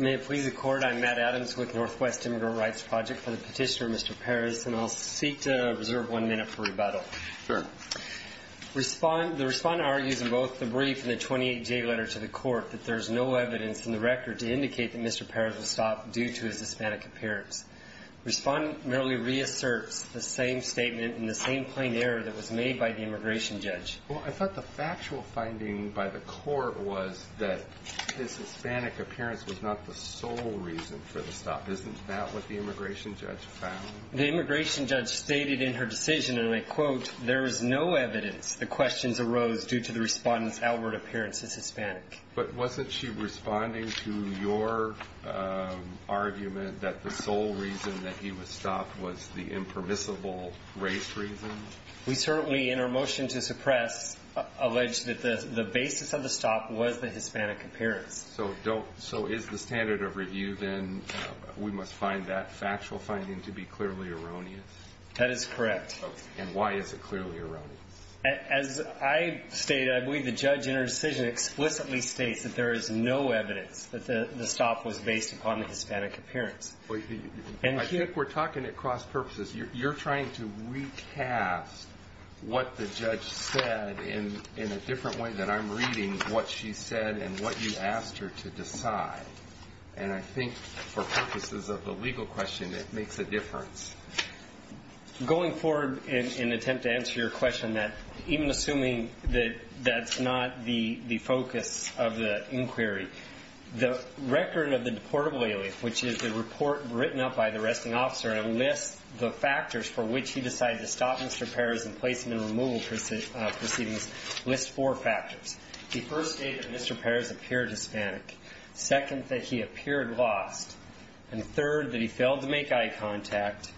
May it please the Court, I'm Matt Adams with Northwest Immigrant Rights Project for the petitioner Mr. Perez and I'll seek to reserve one minute for rebuttal. Sure. The respondent argues in both the brief and the 28-J letter to the Court that there's no evidence in the record to indicate that Mr. Perez was stopped due to his Hispanic appearance. The respondent merely reasserts the same statement and the same plain error that was made by the immigration judge. Well, I thought the factual finding by the Court was that his Hispanic appearance was not the sole reason for the stop, isn't that what the immigration judge found? The immigration judge stated in her decision and I quote, there is no evidence the questions arose due to the respondent's outward appearance as Hispanic. But wasn't she responding to your argument that the sole reason that he was stopped was the impermissible race reason? We certainly, in our motion to suppress, allege that the basis of the stop was the Hispanic appearance. So don't, so is the standard of review then we must find that factual finding to be clearly erroneous? That is correct. And why is it clearly erroneous? As I stated, I believe the judge in her decision explicitly states that there is no evidence that the stop was based upon the Hispanic appearance. I think we're talking at cross purposes. You're trying to recast what the judge said in a different way than I'm reading what she said and what you asked her to decide. And I think for purposes of the legal question, it makes a difference. Going forward in an attempt to answer your question that even assuming that that's not the focus of the inquiry, the record of the deportable alias, which is the report written up by the arresting officer and lists the factors for which he decided to stop Mr. Perez in placement and removal proceedings, lists four factors. The first state that Mr. Perez appeared Hispanic. Second, that he appeared lost. And third, that he failed to make eye contact.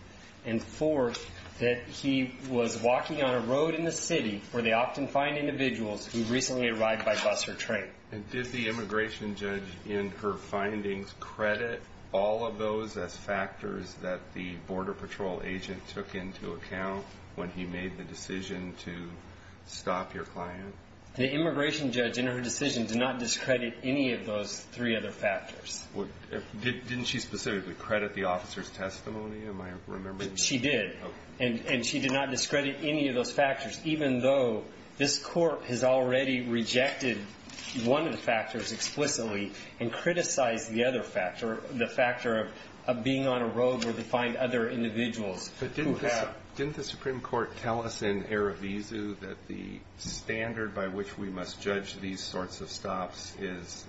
And fourth, that he was walking on a road in the city where they often find individuals who recently arrived by bus or train. And did the immigration judge in her findings credit all of those as factors that the Border Patrol agent took into account when he made the decision to stop your client? The immigration judge in her decision did not discredit any of those three other factors. Didn't she specifically credit the officer's testimony? Am I remembering? She did. And she did not discredit any of those factors, even though this court has already rejected one of the factors explicitly and criticized the other factor, the factor of being on a road where they find other individuals who have. But didn't the Supreme Court tell us in Erevizu that the standard by which we must judge these sorts of stops is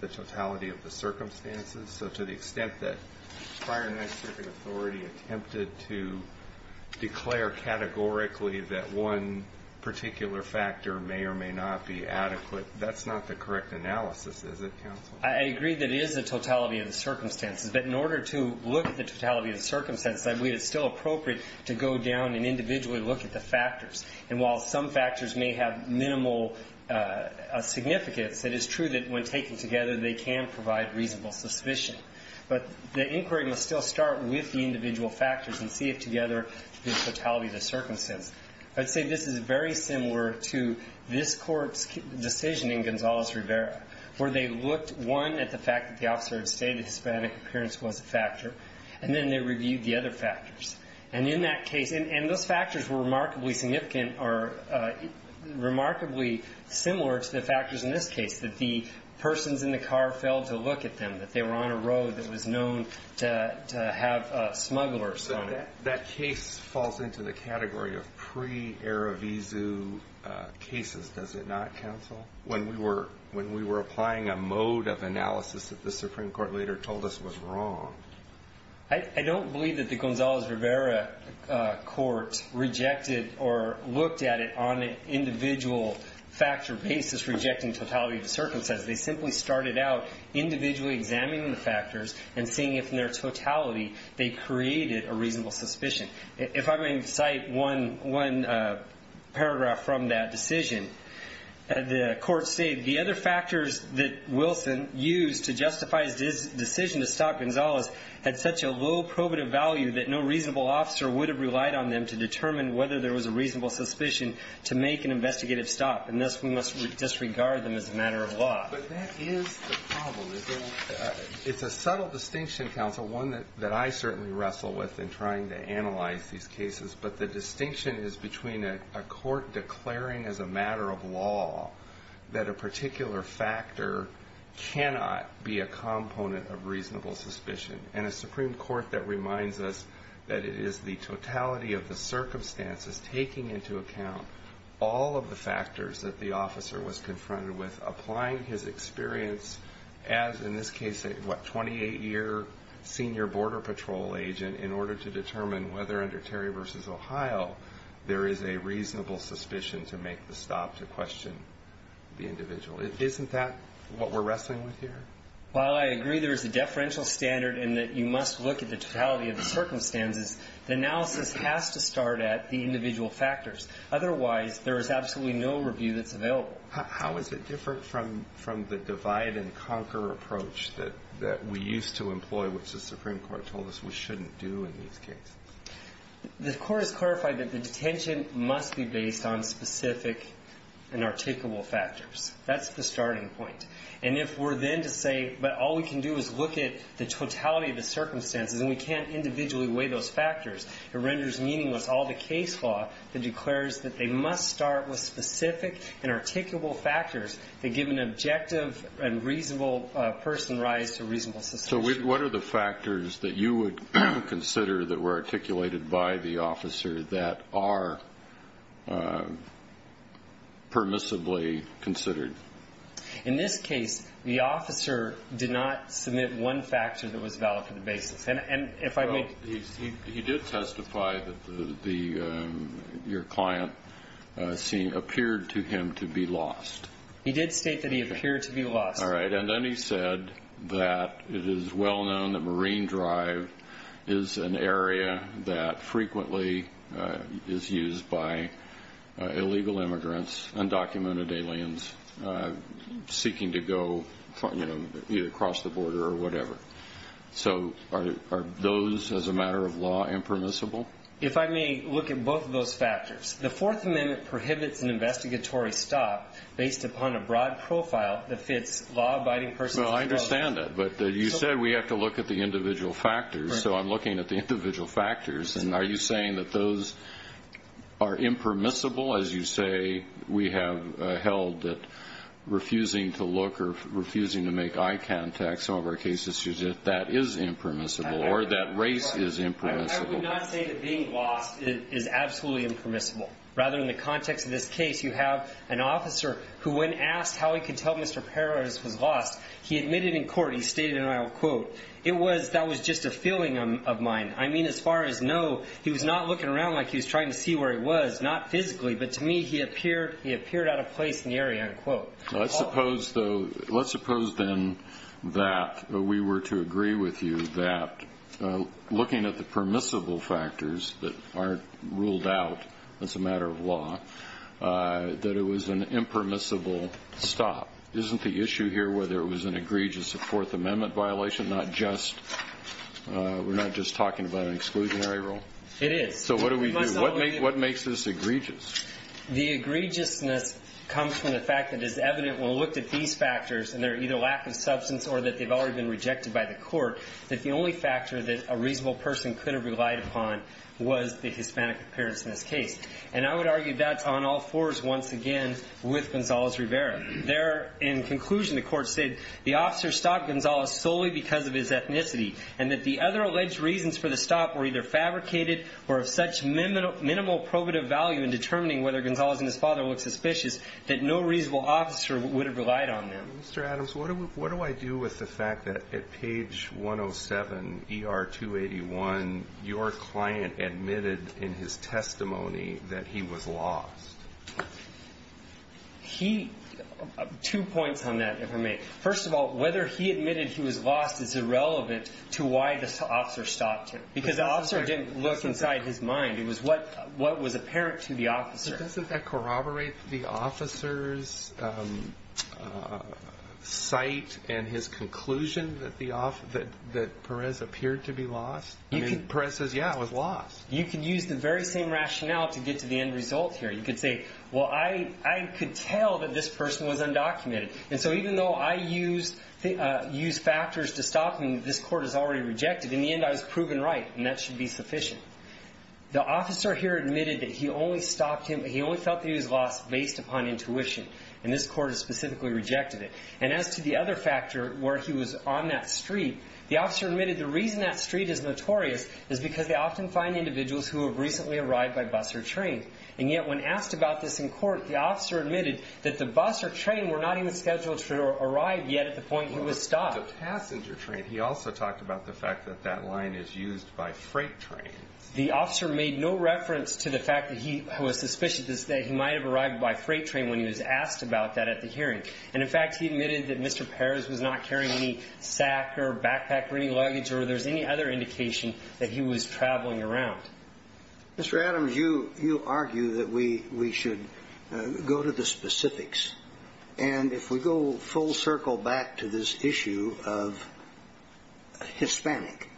the totality of the circumstances? So to the extent that prior United States authorities attempted to declare categorically that one particular factor may or may not be adequate, that's not the correct analysis, is it, counsel? I agree that it is the totality of the circumstances. But in order to look at the totality of the circumstances, I believe it's still appropriate to go down and individually look at the factors. And while some factors may have minimal significance, it is true that when taken together, they can provide reasonable suspicion. But the inquiry must still start with the individual factors and see if together the totality of the circumstance. I'd say this is very similar to this court's decision in Gonzales-Rivera, where they looked, one, at the fact that the officer had stated that Hispanic appearance was a factor, and then they reviewed the other factors. And in that case, and those factors were remarkably significant or remarkably similar to the factors in this case, that the persons in the car failed to look at them, that they were on a road that was known to have smugglers on it. That case falls into the category of pre-Eravizu cases, does it not, counsel, when we were applying a mode of analysis that the Supreme Court later told us was wrong? I don't believe that the Gonzales-Rivera court rejected or looked at it on an individual factor basis, rejecting totality of the circumstances. They simply started out individually examining the factors and seeing if in their totality they created a reasonable suspicion. If I may cite one paragraph from that decision, the court stated, the other factors that Wilson used to justify his decision to stop Gonzales had such a low probative value that no reasonable officer would have relied on them to determine whether there was a reasonable suspicion to make an investigative stop, and thus we must disregard them as a matter of law. But that is the problem, is that it's a subtle distinction, counsel, one that I certainly wrestle with in trying to analyze these cases, but the distinction is between a court declaring as a matter of law that a particular factor cannot be a component of reasonable suspicion, and a Supreme Court that reminds us that it is the totality of the circumstances taking into account all of the factors that the officer was confronted with, applying his experience as, in this case, a, what, 28-year senior border patrol agent in order to determine whether under Terry v. Ohio there is a reasonable suspicion to make the stop to question the individual. Isn't that what we're wrestling with here? Well, I agree there is a deferential standard in that you must look at the totality of the factors. Otherwise, there is absolutely no review that's available. How is it different from the divide-and-conquer approach that we used to employ, which the Supreme Court told us we shouldn't do in these cases? The Court has clarified that the detention must be based on specific and articulable factors. That's the starting point. And if we're then to say, but all we can do is look at the totality of the circumstances and we can't individually weigh those factors, it renders meaningless all the case law that declares that they must start with specific and articulable factors that give an objective and reasonable person's rights to reasonable suspicion. So what are the factors that you would consider that were articulated by the officer that are permissibly considered? In this case, the officer did not submit one factor that was valid for the basis. He did testify that your client appeared to him to be lost. He did state that he appeared to be lost. All right. And then he said that it is well known that Marine Drive is an area that frequently is used by illegal immigrants, undocumented aliens seeking to go across the border or whatever. So are those, as a matter of law, impermissible? If I may look at both of those factors. The Fourth Amendment prohibits an investigatory stop based upon a broad profile that fits law-abiding persons. Well, I understand that. But you said we have to look at the individual factors, so I'm looking at the individual factors. And are you saying that those are impermissible, as you say we have held that refusing to look or refusing to make eye contact, some of our cases, that is impermissible or that race is impermissible? I would not say that being lost is absolutely impermissible. Rather, in the context of this case, you have an officer who, when asked how he could tell Mr. Perez was lost, he admitted in court, he stated, and I will quote, that was just a feeling of mine. I mean, as far as no, he was not looking around like he was trying to see where he was, not physically. But to me, he appeared out of place in the area, end quote. Let's suppose, though, let's suppose, then, that we were to agree with you that, looking at the permissible factors that are ruled out as a matter of law, that it was an impermissible stop. Isn't the issue here whether it was an egregious Fourth Amendment violation, not just we're not just talking about an exclusionary rule? It is. So what do we do? What makes this egregious? The egregiousness comes from the fact that it is evident, when looked at these factors, and they're either lack of substance or that they've already been rejected by the court, that the only factor that a reasonable person could have relied upon was the Hispanic appearance in this case. And I would argue that's on all fours, once again, with Gonzales Rivera. There, in conclusion, the court said, the officer stopped Gonzales solely because of his ethnicity, and that the other alleged reasons for the stop were either fabricated or of such minimal probative value in determining whether Gonzales and his father looked suspicious, that no reasonable officer would have relied on them. Mr. Adams, what do I do with the fact that, at page 107, ER 281, your client admitted, in his testimony, that he was lost? He, two points on that, if I may. First of all, whether he admitted he was lost is irrelevant to why the officer stopped him, because the officer didn't look inside his mind, it was what was apparent to the officer. But doesn't that corroborate the officer's sight and his conclusion that Perez appeared to be lost? I mean, Perez says, yeah, I was lost. You can use the very same rationale to get to the end result here. You could say, well, I could tell that this person was undocumented, and so even though I used factors to stop him, this court has already rejected it. In the end, I was proven right, and that should be sufficient. The officer here admitted that he only felt that he was lost based upon intuition, and this court has specifically rejected it. And as to the other factor, where he was on that street, the officer admitted the reason that street is notorious is because they often find individuals who have recently arrived by bus or train. And yet, when asked about this in court, the officer admitted that the bus or train were not even scheduled to arrive yet at the point he was stopped. The passenger train, he also talked about the fact that that line is used by freight trains. The officer made no reference to the fact that he was suspicious that he might have arrived by freight train when he was asked about that at the hearing. And in fact, he admitted that Mr. Perez was not carrying any sack or backpack or any luggage or there's any other indication that he was traveling around. Mr. Adams, you argue that we should go to the specifics. And if we go full circle back to this issue of Hispanic,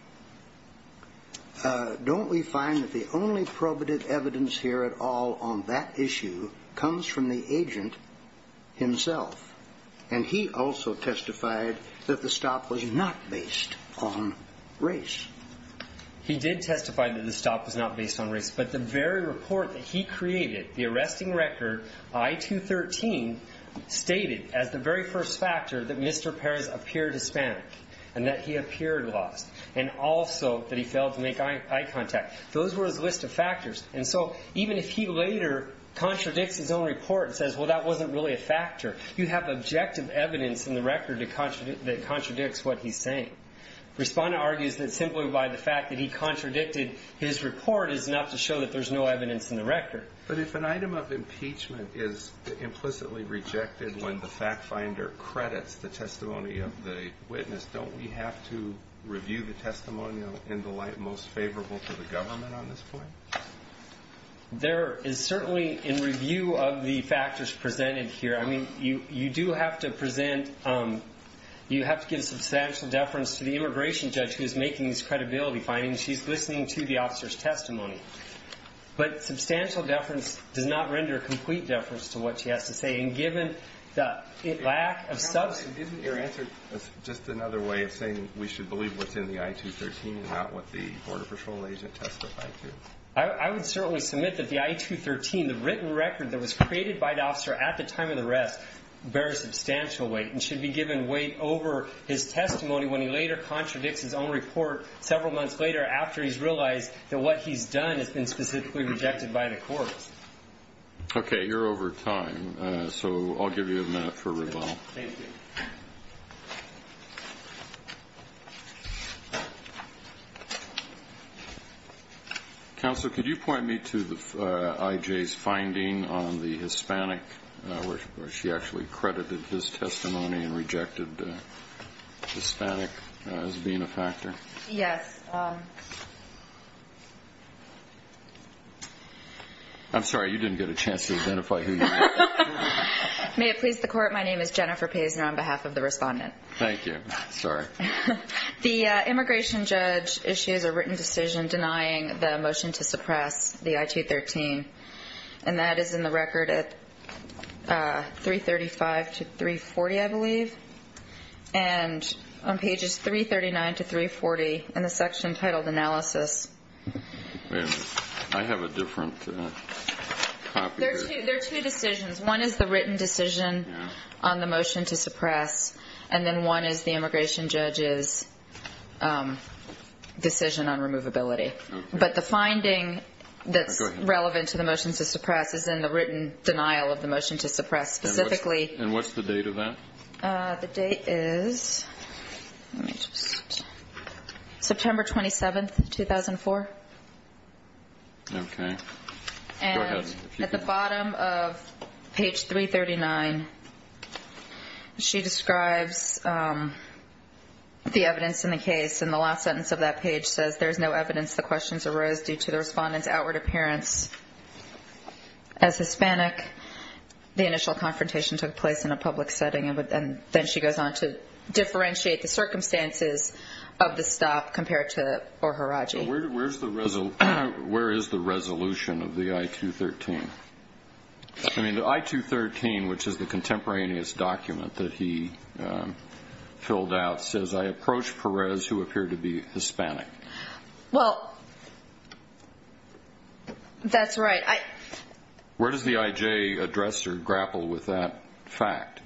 don't we find that the only probative evidence here at all on that issue comes from the agent himself? And he also testified that the stop was not based on race. He did testify that the stop was not based on race. But the very report that he created, the arresting record, I-213, stated as the very first factor that Mr. Perez appeared Hispanic and that he appeared lost. And also that he failed to make eye contact. Those were his list of factors. And so even if he later contradicts his own report and says, well, that wasn't really a factor, you have objective evidence in the record that contradicts what he's saying. Respondent argues that simply by the fact that he contradicted his report is enough to show that there's no evidence in the record. But if an item of impeachment is implicitly rejected when the fact finder credits the testimony of the witness, don't we have to review the testimonial in the light most favorable to the government on this point? There is certainly, in review of the factors presented here, I mean, you do have to present, you have to give substantial deference to the immigration judge who is making this credibility finding. She's listening to the officer's testimony. But substantial deference does not render complete deference to what she has to say. And given the lack of substance. Isn't your answer just another way of saying we should believe what's in the I-213 and not what the border patrol agent testified to? I would certainly submit that the I-213, the written record that was created by the officer at the time of the arrest, bears substantial weight. And should be given weight over his testimony when he later contradicts his own report several months later after he's realized that what he's done has been specifically rejected by the courts. Okay. You're over time. So I'll give you a minute for rebuttal. Thank you. Counsel, could you point me to the IJ's finding on the Hispanic, where she actually credited his testimony and rejected the Hispanic as being a factor? Yes. I'm sorry. You didn't get a chance to identify who you were. May it please the court. My name is Jennifer Pazner on behalf of the respondent. Thank you. Sorry. The immigration judge issues a written decision denying the motion to suppress the I-213. And that is in the record at 335 to 340, I believe. And on pages 339 to 340 in the section titled analysis. I have a different copy. There are two decisions. One is the written decision on the motion to suppress. And then one is the immigration judge's decision on removability. But the finding that's relevant to the motion to suppress is in the written denial of the motion to suppress. Specifically. And what's the date of that? The date is September 27th, 2004. Okay. Go ahead. And at the bottom of page 339, she describes the evidence in the case. And the last sentence of that page says, there's no evidence the questions arose due to the respondent's outward appearance as Hispanic. The initial confrontation took place in a public setting. And then she goes on to differentiate the circumstances of the stop compared to Oharagi. Where is the resolution of the I-213? I mean, the I-213, which is the contemporaneous document that he filled out, says, I approach Perez, who appeared to be Hispanic. Well, that's right. Where does the IJ address or grapple with that fact?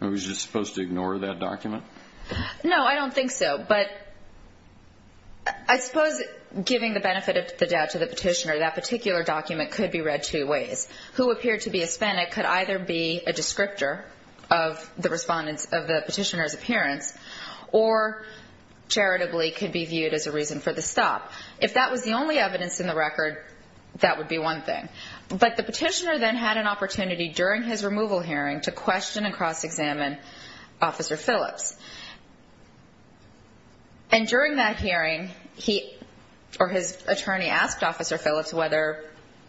Are we just supposed to ignore that document? No, I don't think so. But I suppose giving the benefit of the doubt to the petitioner, that particular document could be read two ways. Who appeared to be Hispanic could either be a descriptor of the petitioner's appearance or charitably could be viewed as a reason for the stop. If that was the only evidence in the record, that would be one thing. But the petitioner then had an opportunity during his removal hearing to question and cross-examine Officer Phillips. And during that hearing, he or his attorney asked Officer Phillips whether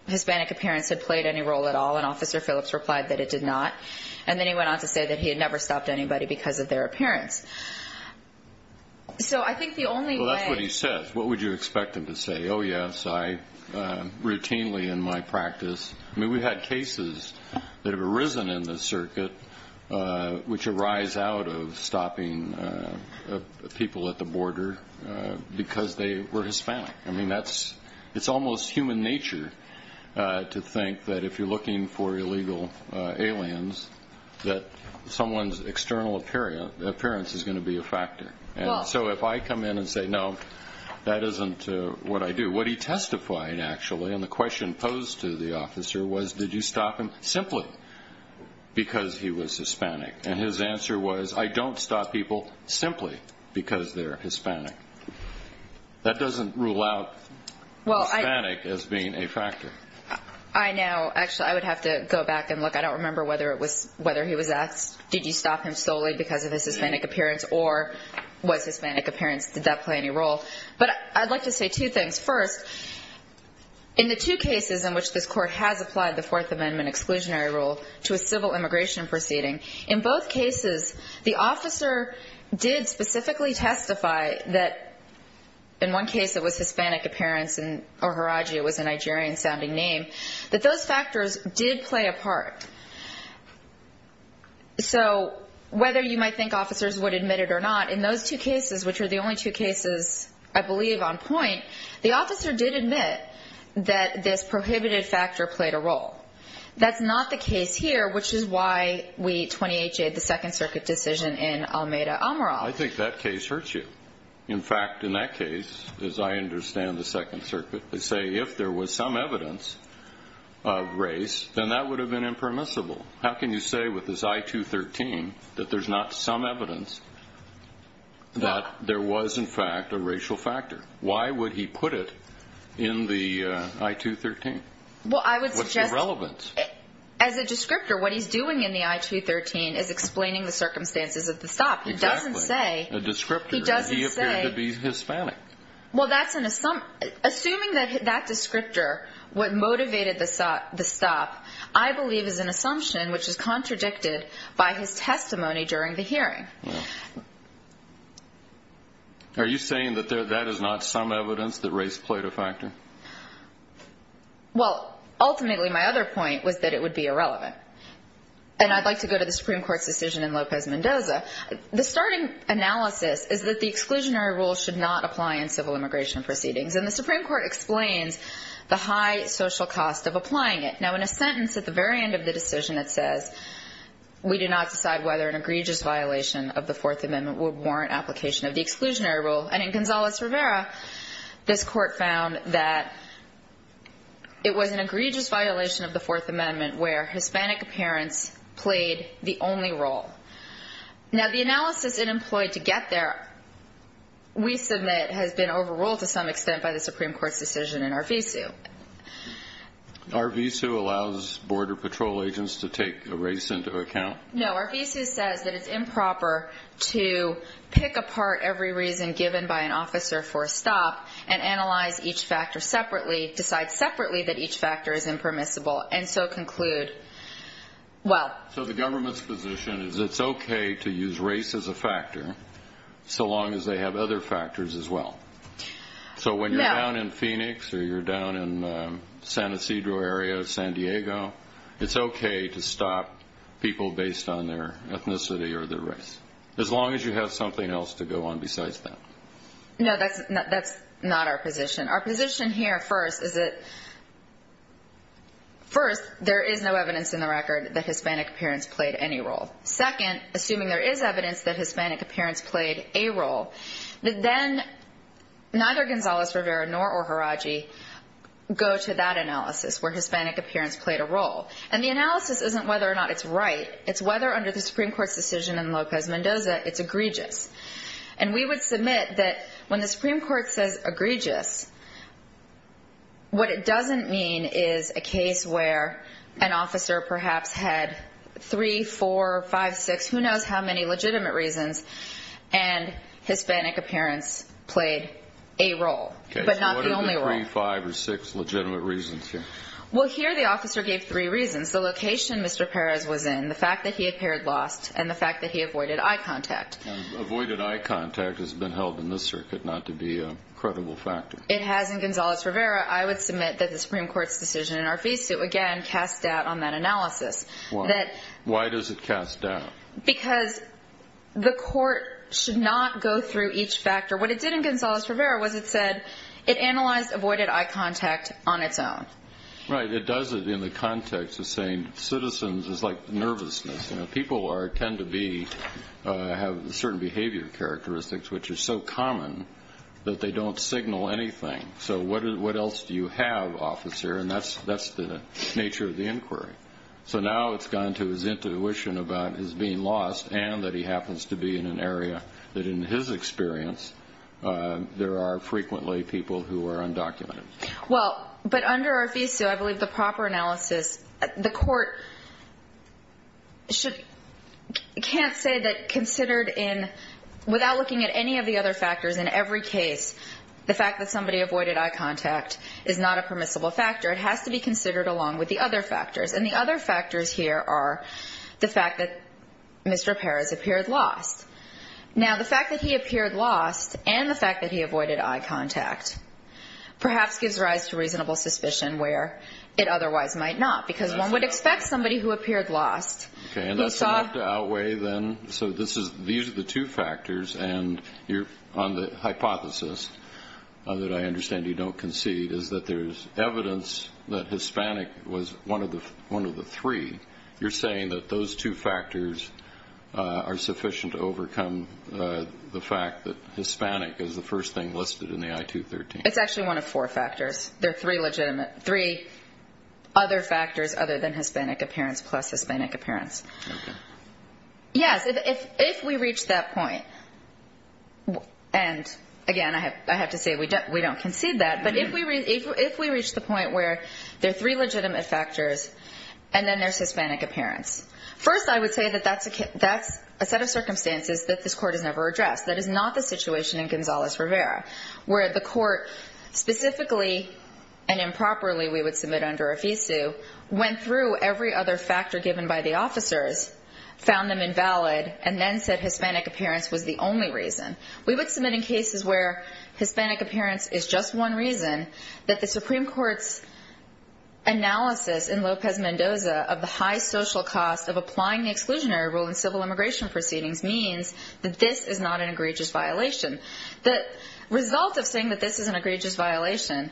Hispanic appearance had played any role at all, and Officer Phillips replied that it did not. And then he went on to say that he had never stopped anybody because of their appearance. So I think the only way. Well, that's what he says. What would you expect him to say? Oh, yes, I routinely in my practice. I mean, we've had cases that have arisen in the circuit which arise out of stopping people at the border because they were Hispanic. I mean, it's almost human nature to think that if you're looking for illegal aliens, that someone's external appearance is going to be a factor. So if I come in and say, no, that isn't what I do, what he testified, actually, and the question posed to the officer was, did you stop him simply because he was Hispanic? And his answer was, I don't stop people simply because they're Hispanic. That doesn't rule out Hispanic as being a factor. I know. Actually, I would have to go back and look. I don't remember whether he was asked, did you stop him solely because of his Hispanic appearance or was Hispanic appearance, did that play any role? But I'd like to say two things. First, in the two cases in which this Court has applied the Fourth Amendment exclusionary rule to a civil immigration proceeding, in both cases, the officer did specifically testify that in one case it was Hispanic appearance or Haraji, it was a Nigerian-sounding name, that those factors did play a part. So whether you might think officers would admit it or not, in those two cases, which are the only two cases I believe on point, the officer did admit that this prohibited factor played a role. That's not the case here, which is why we 28-Jed the Second Circuit decision in Almeida-Amaral. I think that case hurts you. In fact, in that case, as I understand the Second Circuit, they say if there was some evidence of race, then that would have been impermissible. How can you say with this I-213 that there's not some evidence that there was, in fact, a racial factor? Why would he put it in the I-213? What's the relevance? As a descriptor, what he's doing in the I-213 is explaining the circumstances of the stop. He doesn't say he appeared to be Hispanic. Assuming that descriptor, what motivated the stop, I believe, is an assumption which is contradicted by his testimony during the hearing. Are you saying that that is not some evidence that race played a factor? Well, ultimately, my other point was that it would be irrelevant, and I'd like to go to the Supreme Court's decision in Lopez-Mendoza. The starting analysis is that the exclusionary rule should not apply in civil immigration proceedings, and the Supreme Court explains the high social cost of applying it. Now, in a sentence at the very end of the decision, it says, we do not decide whether an egregious violation of the Fourth Amendment would warrant application of the exclusionary rule. And in Gonzales-Rivera, this Court found that it was an egregious violation of the Fourth Amendment where Hispanic appearance played the only role. Now, the analysis it employed to get there, we submit, has been overruled to some extent by the Supreme Court's decision in Arvizu. Arvizu allows Border Patrol agents to take race into account? No, Arvizu says that it's improper to pick apart every reason given by an officer for a stop and analyze each factor separately, decide separately that each factor is impermissible, and so conclude, well. So the government's position is it's okay to use race as a factor, so long as they have other factors as well. So when you're down in Phoenix or you're down in the San Ysidro area of San Diego, it's okay to stop people based on their ethnicity or their race, as long as you have something else to go on besides that. No, that's not our position. Our position here first is that, first, there is no evidence in the record that Hispanic appearance played any role. Second, assuming there is evidence that Hispanic appearance played a role, then neither Gonzales-Rivera nor O'Haraji go to that analysis where Hispanic appearance played a role. And the analysis isn't whether or not it's right. It's whether under the Supreme Court's decision in Locos Mendoza it's egregious. And we would submit that when the Supreme Court says egregious, what it doesn't mean is a case where an officer perhaps had three, four, five, six, who knows how many legitimate reasons, and Hispanic appearance played a role, but not the only role. Three, five, or six legitimate reasons here. Well, here the officer gave three reasons. The location Mr. Perez was in, the fact that he appeared lost, and the fact that he avoided eye contact. Avoided eye contact has been held in this circuit not to be a credible factor. It has in Gonzales-Rivera. I would submit that the Supreme Court's decision in Arvizu, again, cast doubt on that analysis. Why? Why does it cast doubt? Because the court should not go through each factor. What it did in Gonzales-Rivera was it said it analyzed avoided eye contact on its own. Right. It does it in the context of saying citizens is like nervousness. People tend to have certain behavior characteristics which are so common that they don't signal anything. So what else do you have, officer? And that's the nature of the inquiry. So now it's gone to his intuition about his being lost and that he happens to be in an area that, in his experience, there are frequently people who are undocumented. Well, but under Arvizu, I believe the proper analysis, the court can't say that considered in, without looking at any of the other factors in every case, the fact that somebody avoided eye contact is not a permissible factor. It has to be considered along with the other factors. And the other factors here are the fact that Mr. Perez appeared lost. Now, the fact that he appeared lost and the fact that he avoided eye contact perhaps gives rise to reasonable suspicion where it otherwise might not, because one would expect somebody who appeared lost. Okay. And that's enough to outweigh then. So this is, these are the two factors. And on the hypothesis that I understand you don't concede is that there's evidence that Hispanic was one of the three. You're saying that those two factors are sufficient to overcome the fact that Hispanic is the first thing listed in the I-213? It's actually one of four factors. There are three legitimate, three other factors other than Hispanic appearance plus Hispanic appearance. Okay. Yes. If we reach that point, and, again, I have to say we don't concede that, but if we reach the point where there are three legitimate factors and then there's Hispanic appearance, first I would say that that's a set of circumstances that this Court has never addressed. That is not the situation in Gonzales-Rivera where the Court specifically and improperly, we would submit under AFISU, went through every other factor given by the officers, found them invalid, and then said Hispanic appearance was the only reason. We would submit in cases where Hispanic appearance is just one reason, that the Supreme Court's analysis in Lopez-Mendoza of the high social cost of applying the exclusionary rule in civil immigration proceedings means that this is not an egregious violation. The result of saying that this is an egregious violation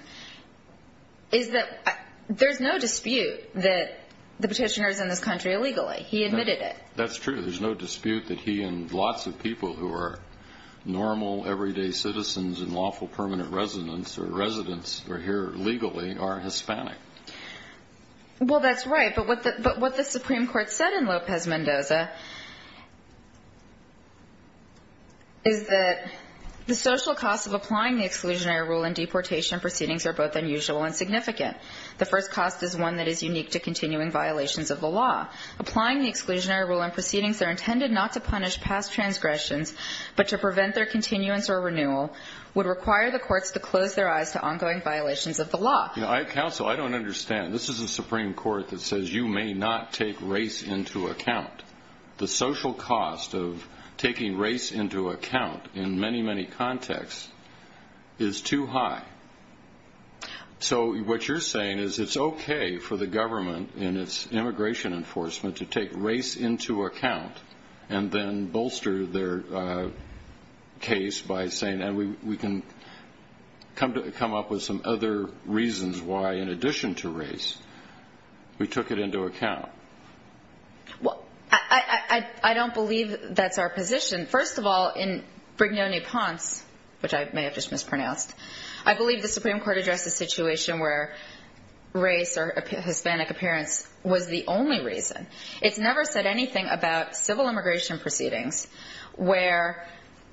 is that there's no dispute that the petitioner is in this country illegally. He admitted it. That's true. There's no dispute that he and lots of people who are normal, everyday citizens and lawful permanent residents or residents who are here legally are Hispanic. Well, that's right. But what the Supreme Court said in Lopez-Mendoza is that the social cost of applying the exclusionary rule in deportation proceedings are both unusual and significant. The first cost is one that is unique to continuing violations of the law. Applying the exclusionary rule in proceedings that are intended not to punish past transgressions but to prevent their continuance or renewal would require the courts to close their eyes to ongoing violations of the law. Counsel, I don't understand. This is a Supreme Court that says you may not take race into account. The social cost of taking race into account in many, many contexts is too high. So what you're saying is it's okay for the government in its immigration enforcement to take race into account and then bolster their case by saying we can come up with some other reasons why in addition to race we took it into account. Well, I don't believe that's our position. First of all, in Brignone-Ponce, which I may have just mispronounced, I believe the Supreme Court addressed the situation where race or Hispanic appearance was the only reason. It's never said anything about civil immigration proceedings where,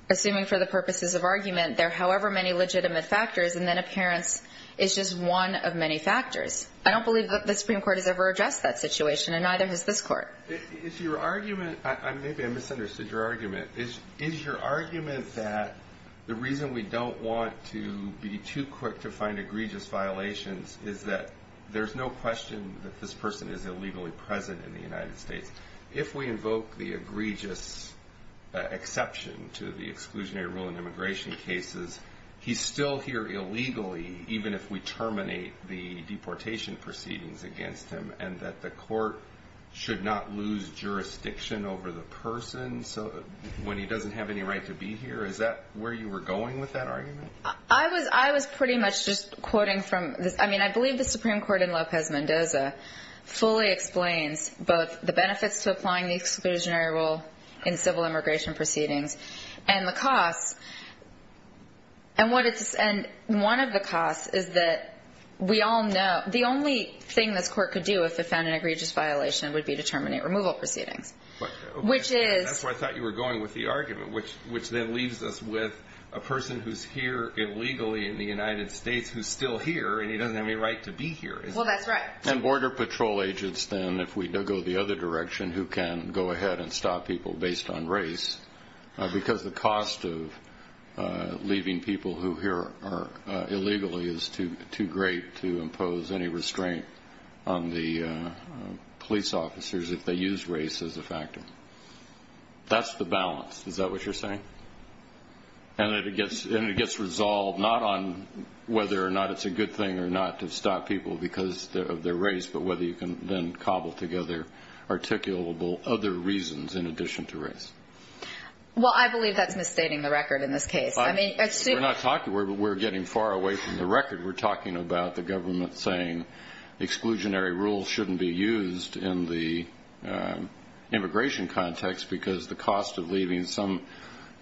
assuming for the purposes of argument, there are however many legitimate factors and then appearance is just one of many factors. I don't believe the Supreme Court has ever addressed that situation, and neither has this Court. Is your argument, maybe I misunderstood your argument, is your argument that the reason we don't want to be too quick to find egregious violations is that there's no question that this person is illegally present in the United States. If we invoke the egregious exception to the exclusionary rule in immigration cases, he's still here illegally even if we terminate the deportation proceedings against him, and that the court should not lose jurisdiction over the person when he doesn't have any right to be here? I was pretty much just quoting from this. I mean, I believe the Supreme Court in Lopez-Mendoza fully explains both the benefits to applying the exclusionary rule in civil immigration proceedings and the costs, and one of the costs is that we all know the only thing this court could do if it found an egregious violation would be to terminate removal proceedings. That's where I thought you were going with the argument, which then leaves us with a person who's here illegally in the United States who's still here, and he doesn't have any right to be here. Well, that's right. And border patrol agents then, if we go the other direction, who can go ahead and stop people based on race, because the cost of leaving people who are here illegally is too great to impose any restraint on the police officers if they use race as a factor. That's the balance. Is that what you're saying? And it gets resolved not on whether or not it's a good thing or not to stop people because of their race, but whether you can then cobble together articulable other reasons in addition to race. Well, I believe that's misstating the record in this case. We're not talking about that. We're getting far away from the record. We're talking about the government saying exclusionary rules shouldn't be used in the immigration context because the cost of leaving some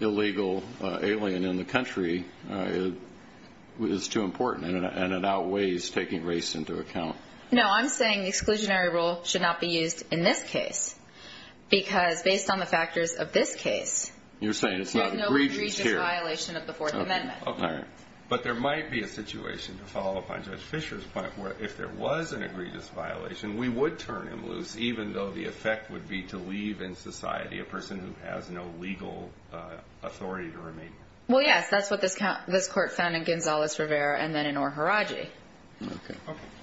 illegal alien in the country is too important, and it outweighs taking race into account. No, I'm saying exclusionary rule should not be used in this case because, based on the factors of this case, there's no egregious violation of the Fourth Amendment. Okay. But there might be a situation, to follow up on Judge Fischer's point, where if there was an egregious violation, we would turn him loose, even though the effect would be to leave in society a person who has no legal authority to remain. Well, yes, that's what this court found in Gonzales-Rivera and then in Orohiraji. Okay.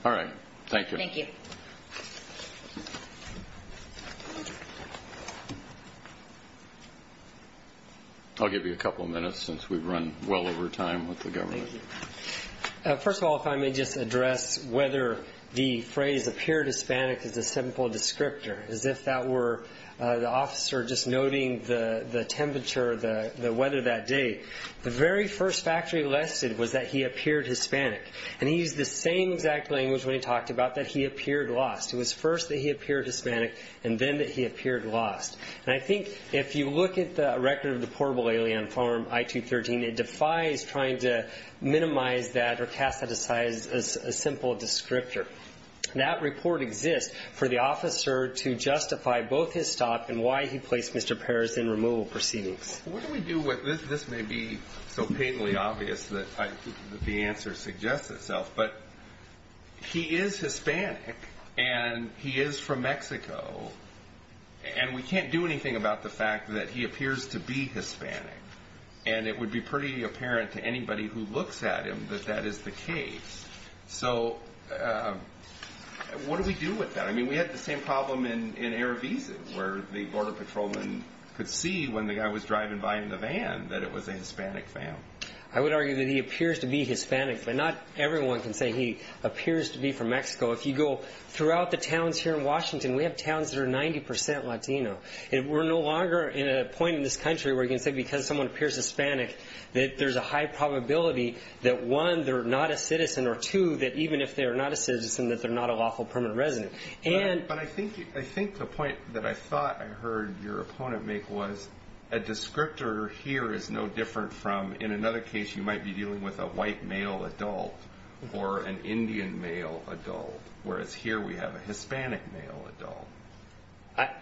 All right. Thank you. Thank you. Thank you. I'll give you a couple of minutes since we've run well over time with the government. Thank you. First of all, if I may just address whether the phrase appeared Hispanic is a simple descriptor, as if that were the officer just noting the temperature, the weather that day. The very first fact he listed was that he appeared Hispanic, and he used the same exact language when he talked about that he appeared lost. It was first that he appeared Hispanic and then that he appeared lost. And I think if you look at the record of the portable alien farm, I-213, it defies trying to minimize that or chastise a simple descriptor. That report exists for the officer to justify both his stop and why he placed Mr. Perez in removal proceedings. What do we do with this? This may be so painfully obvious that the answer suggests itself, but he is Hispanic and he is from Mexico, and we can't do anything about the fact that he appears to be Hispanic. And it would be pretty apparent to anybody who looks at him that that is the case. So what do we do with that? I mean, we had the same problem in Erevisa, where the border patrolman could see when the guy was driving by in the van that it was a Hispanic family. I would argue that he appears to be Hispanic, but not everyone can say he appears to be from Mexico. If you go throughout the towns here in Washington, we have towns that are 90 percent Latino. We're no longer in a point in this country where you can say because someone appears Hispanic that there's a high probability that, one, they're not a citizen, or, two, that even if they're not a citizen, that they're not a lawful permanent resident. But I think the point that I thought I heard your opponent make was a descriptor here is no different from in another case you might be dealing with a white male adult or an Indian male adult, whereas here we have a Hispanic male adult.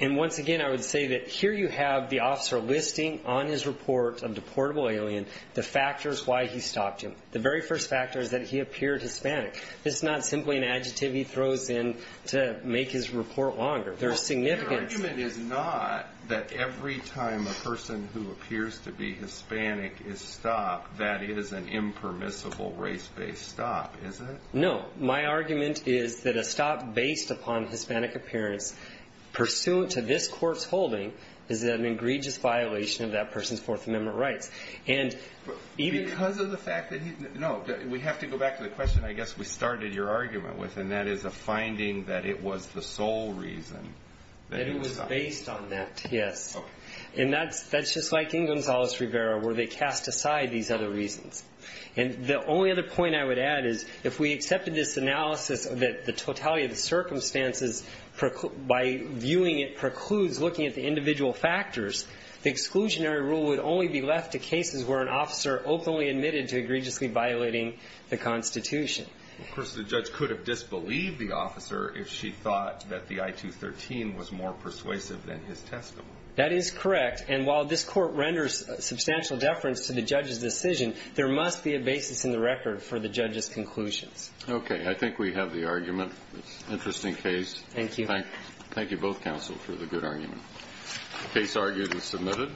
And once again, I would say that here you have the officer listing on his report of deportable alien the factors why he stopped him. The very first factor is that he appeared Hispanic. This is not simply an adjective he throws in to make his report longer. Your argument is not that every time a person who appears to be Hispanic is stopped, that is an impermissible race-based stop, is it? No. My argument is that a stop based upon Hispanic appearance pursuant to this court's holding is an egregious violation of that person's Fourth Amendment rights. Because of the fact that he's not? No. We have to go back to the question I guess we started your argument with, and that is a finding that it was the sole reason that he was stopped. That it was based on that, yes. And that's just like in Gonzales-Rivera where they cast aside these other reasons. And the only other point I would add is if we accepted this analysis that the totality of the circumstances by viewing it precludes looking at the individual factors, the exclusionary rule would only be left to cases where an officer openly admitted to egregiously violating the Constitution. Of course, the judge could have disbelieved the officer if she thought that the I-213 was more persuasive than his testimony. That is correct. And while this court renders substantial deference to the judge's decision, there must be a basis in the record for the judge's conclusions. Okay. I think we have the argument. Interesting case. Thank you. Thank you both, counsel, for the good argument. Case argued and submitted.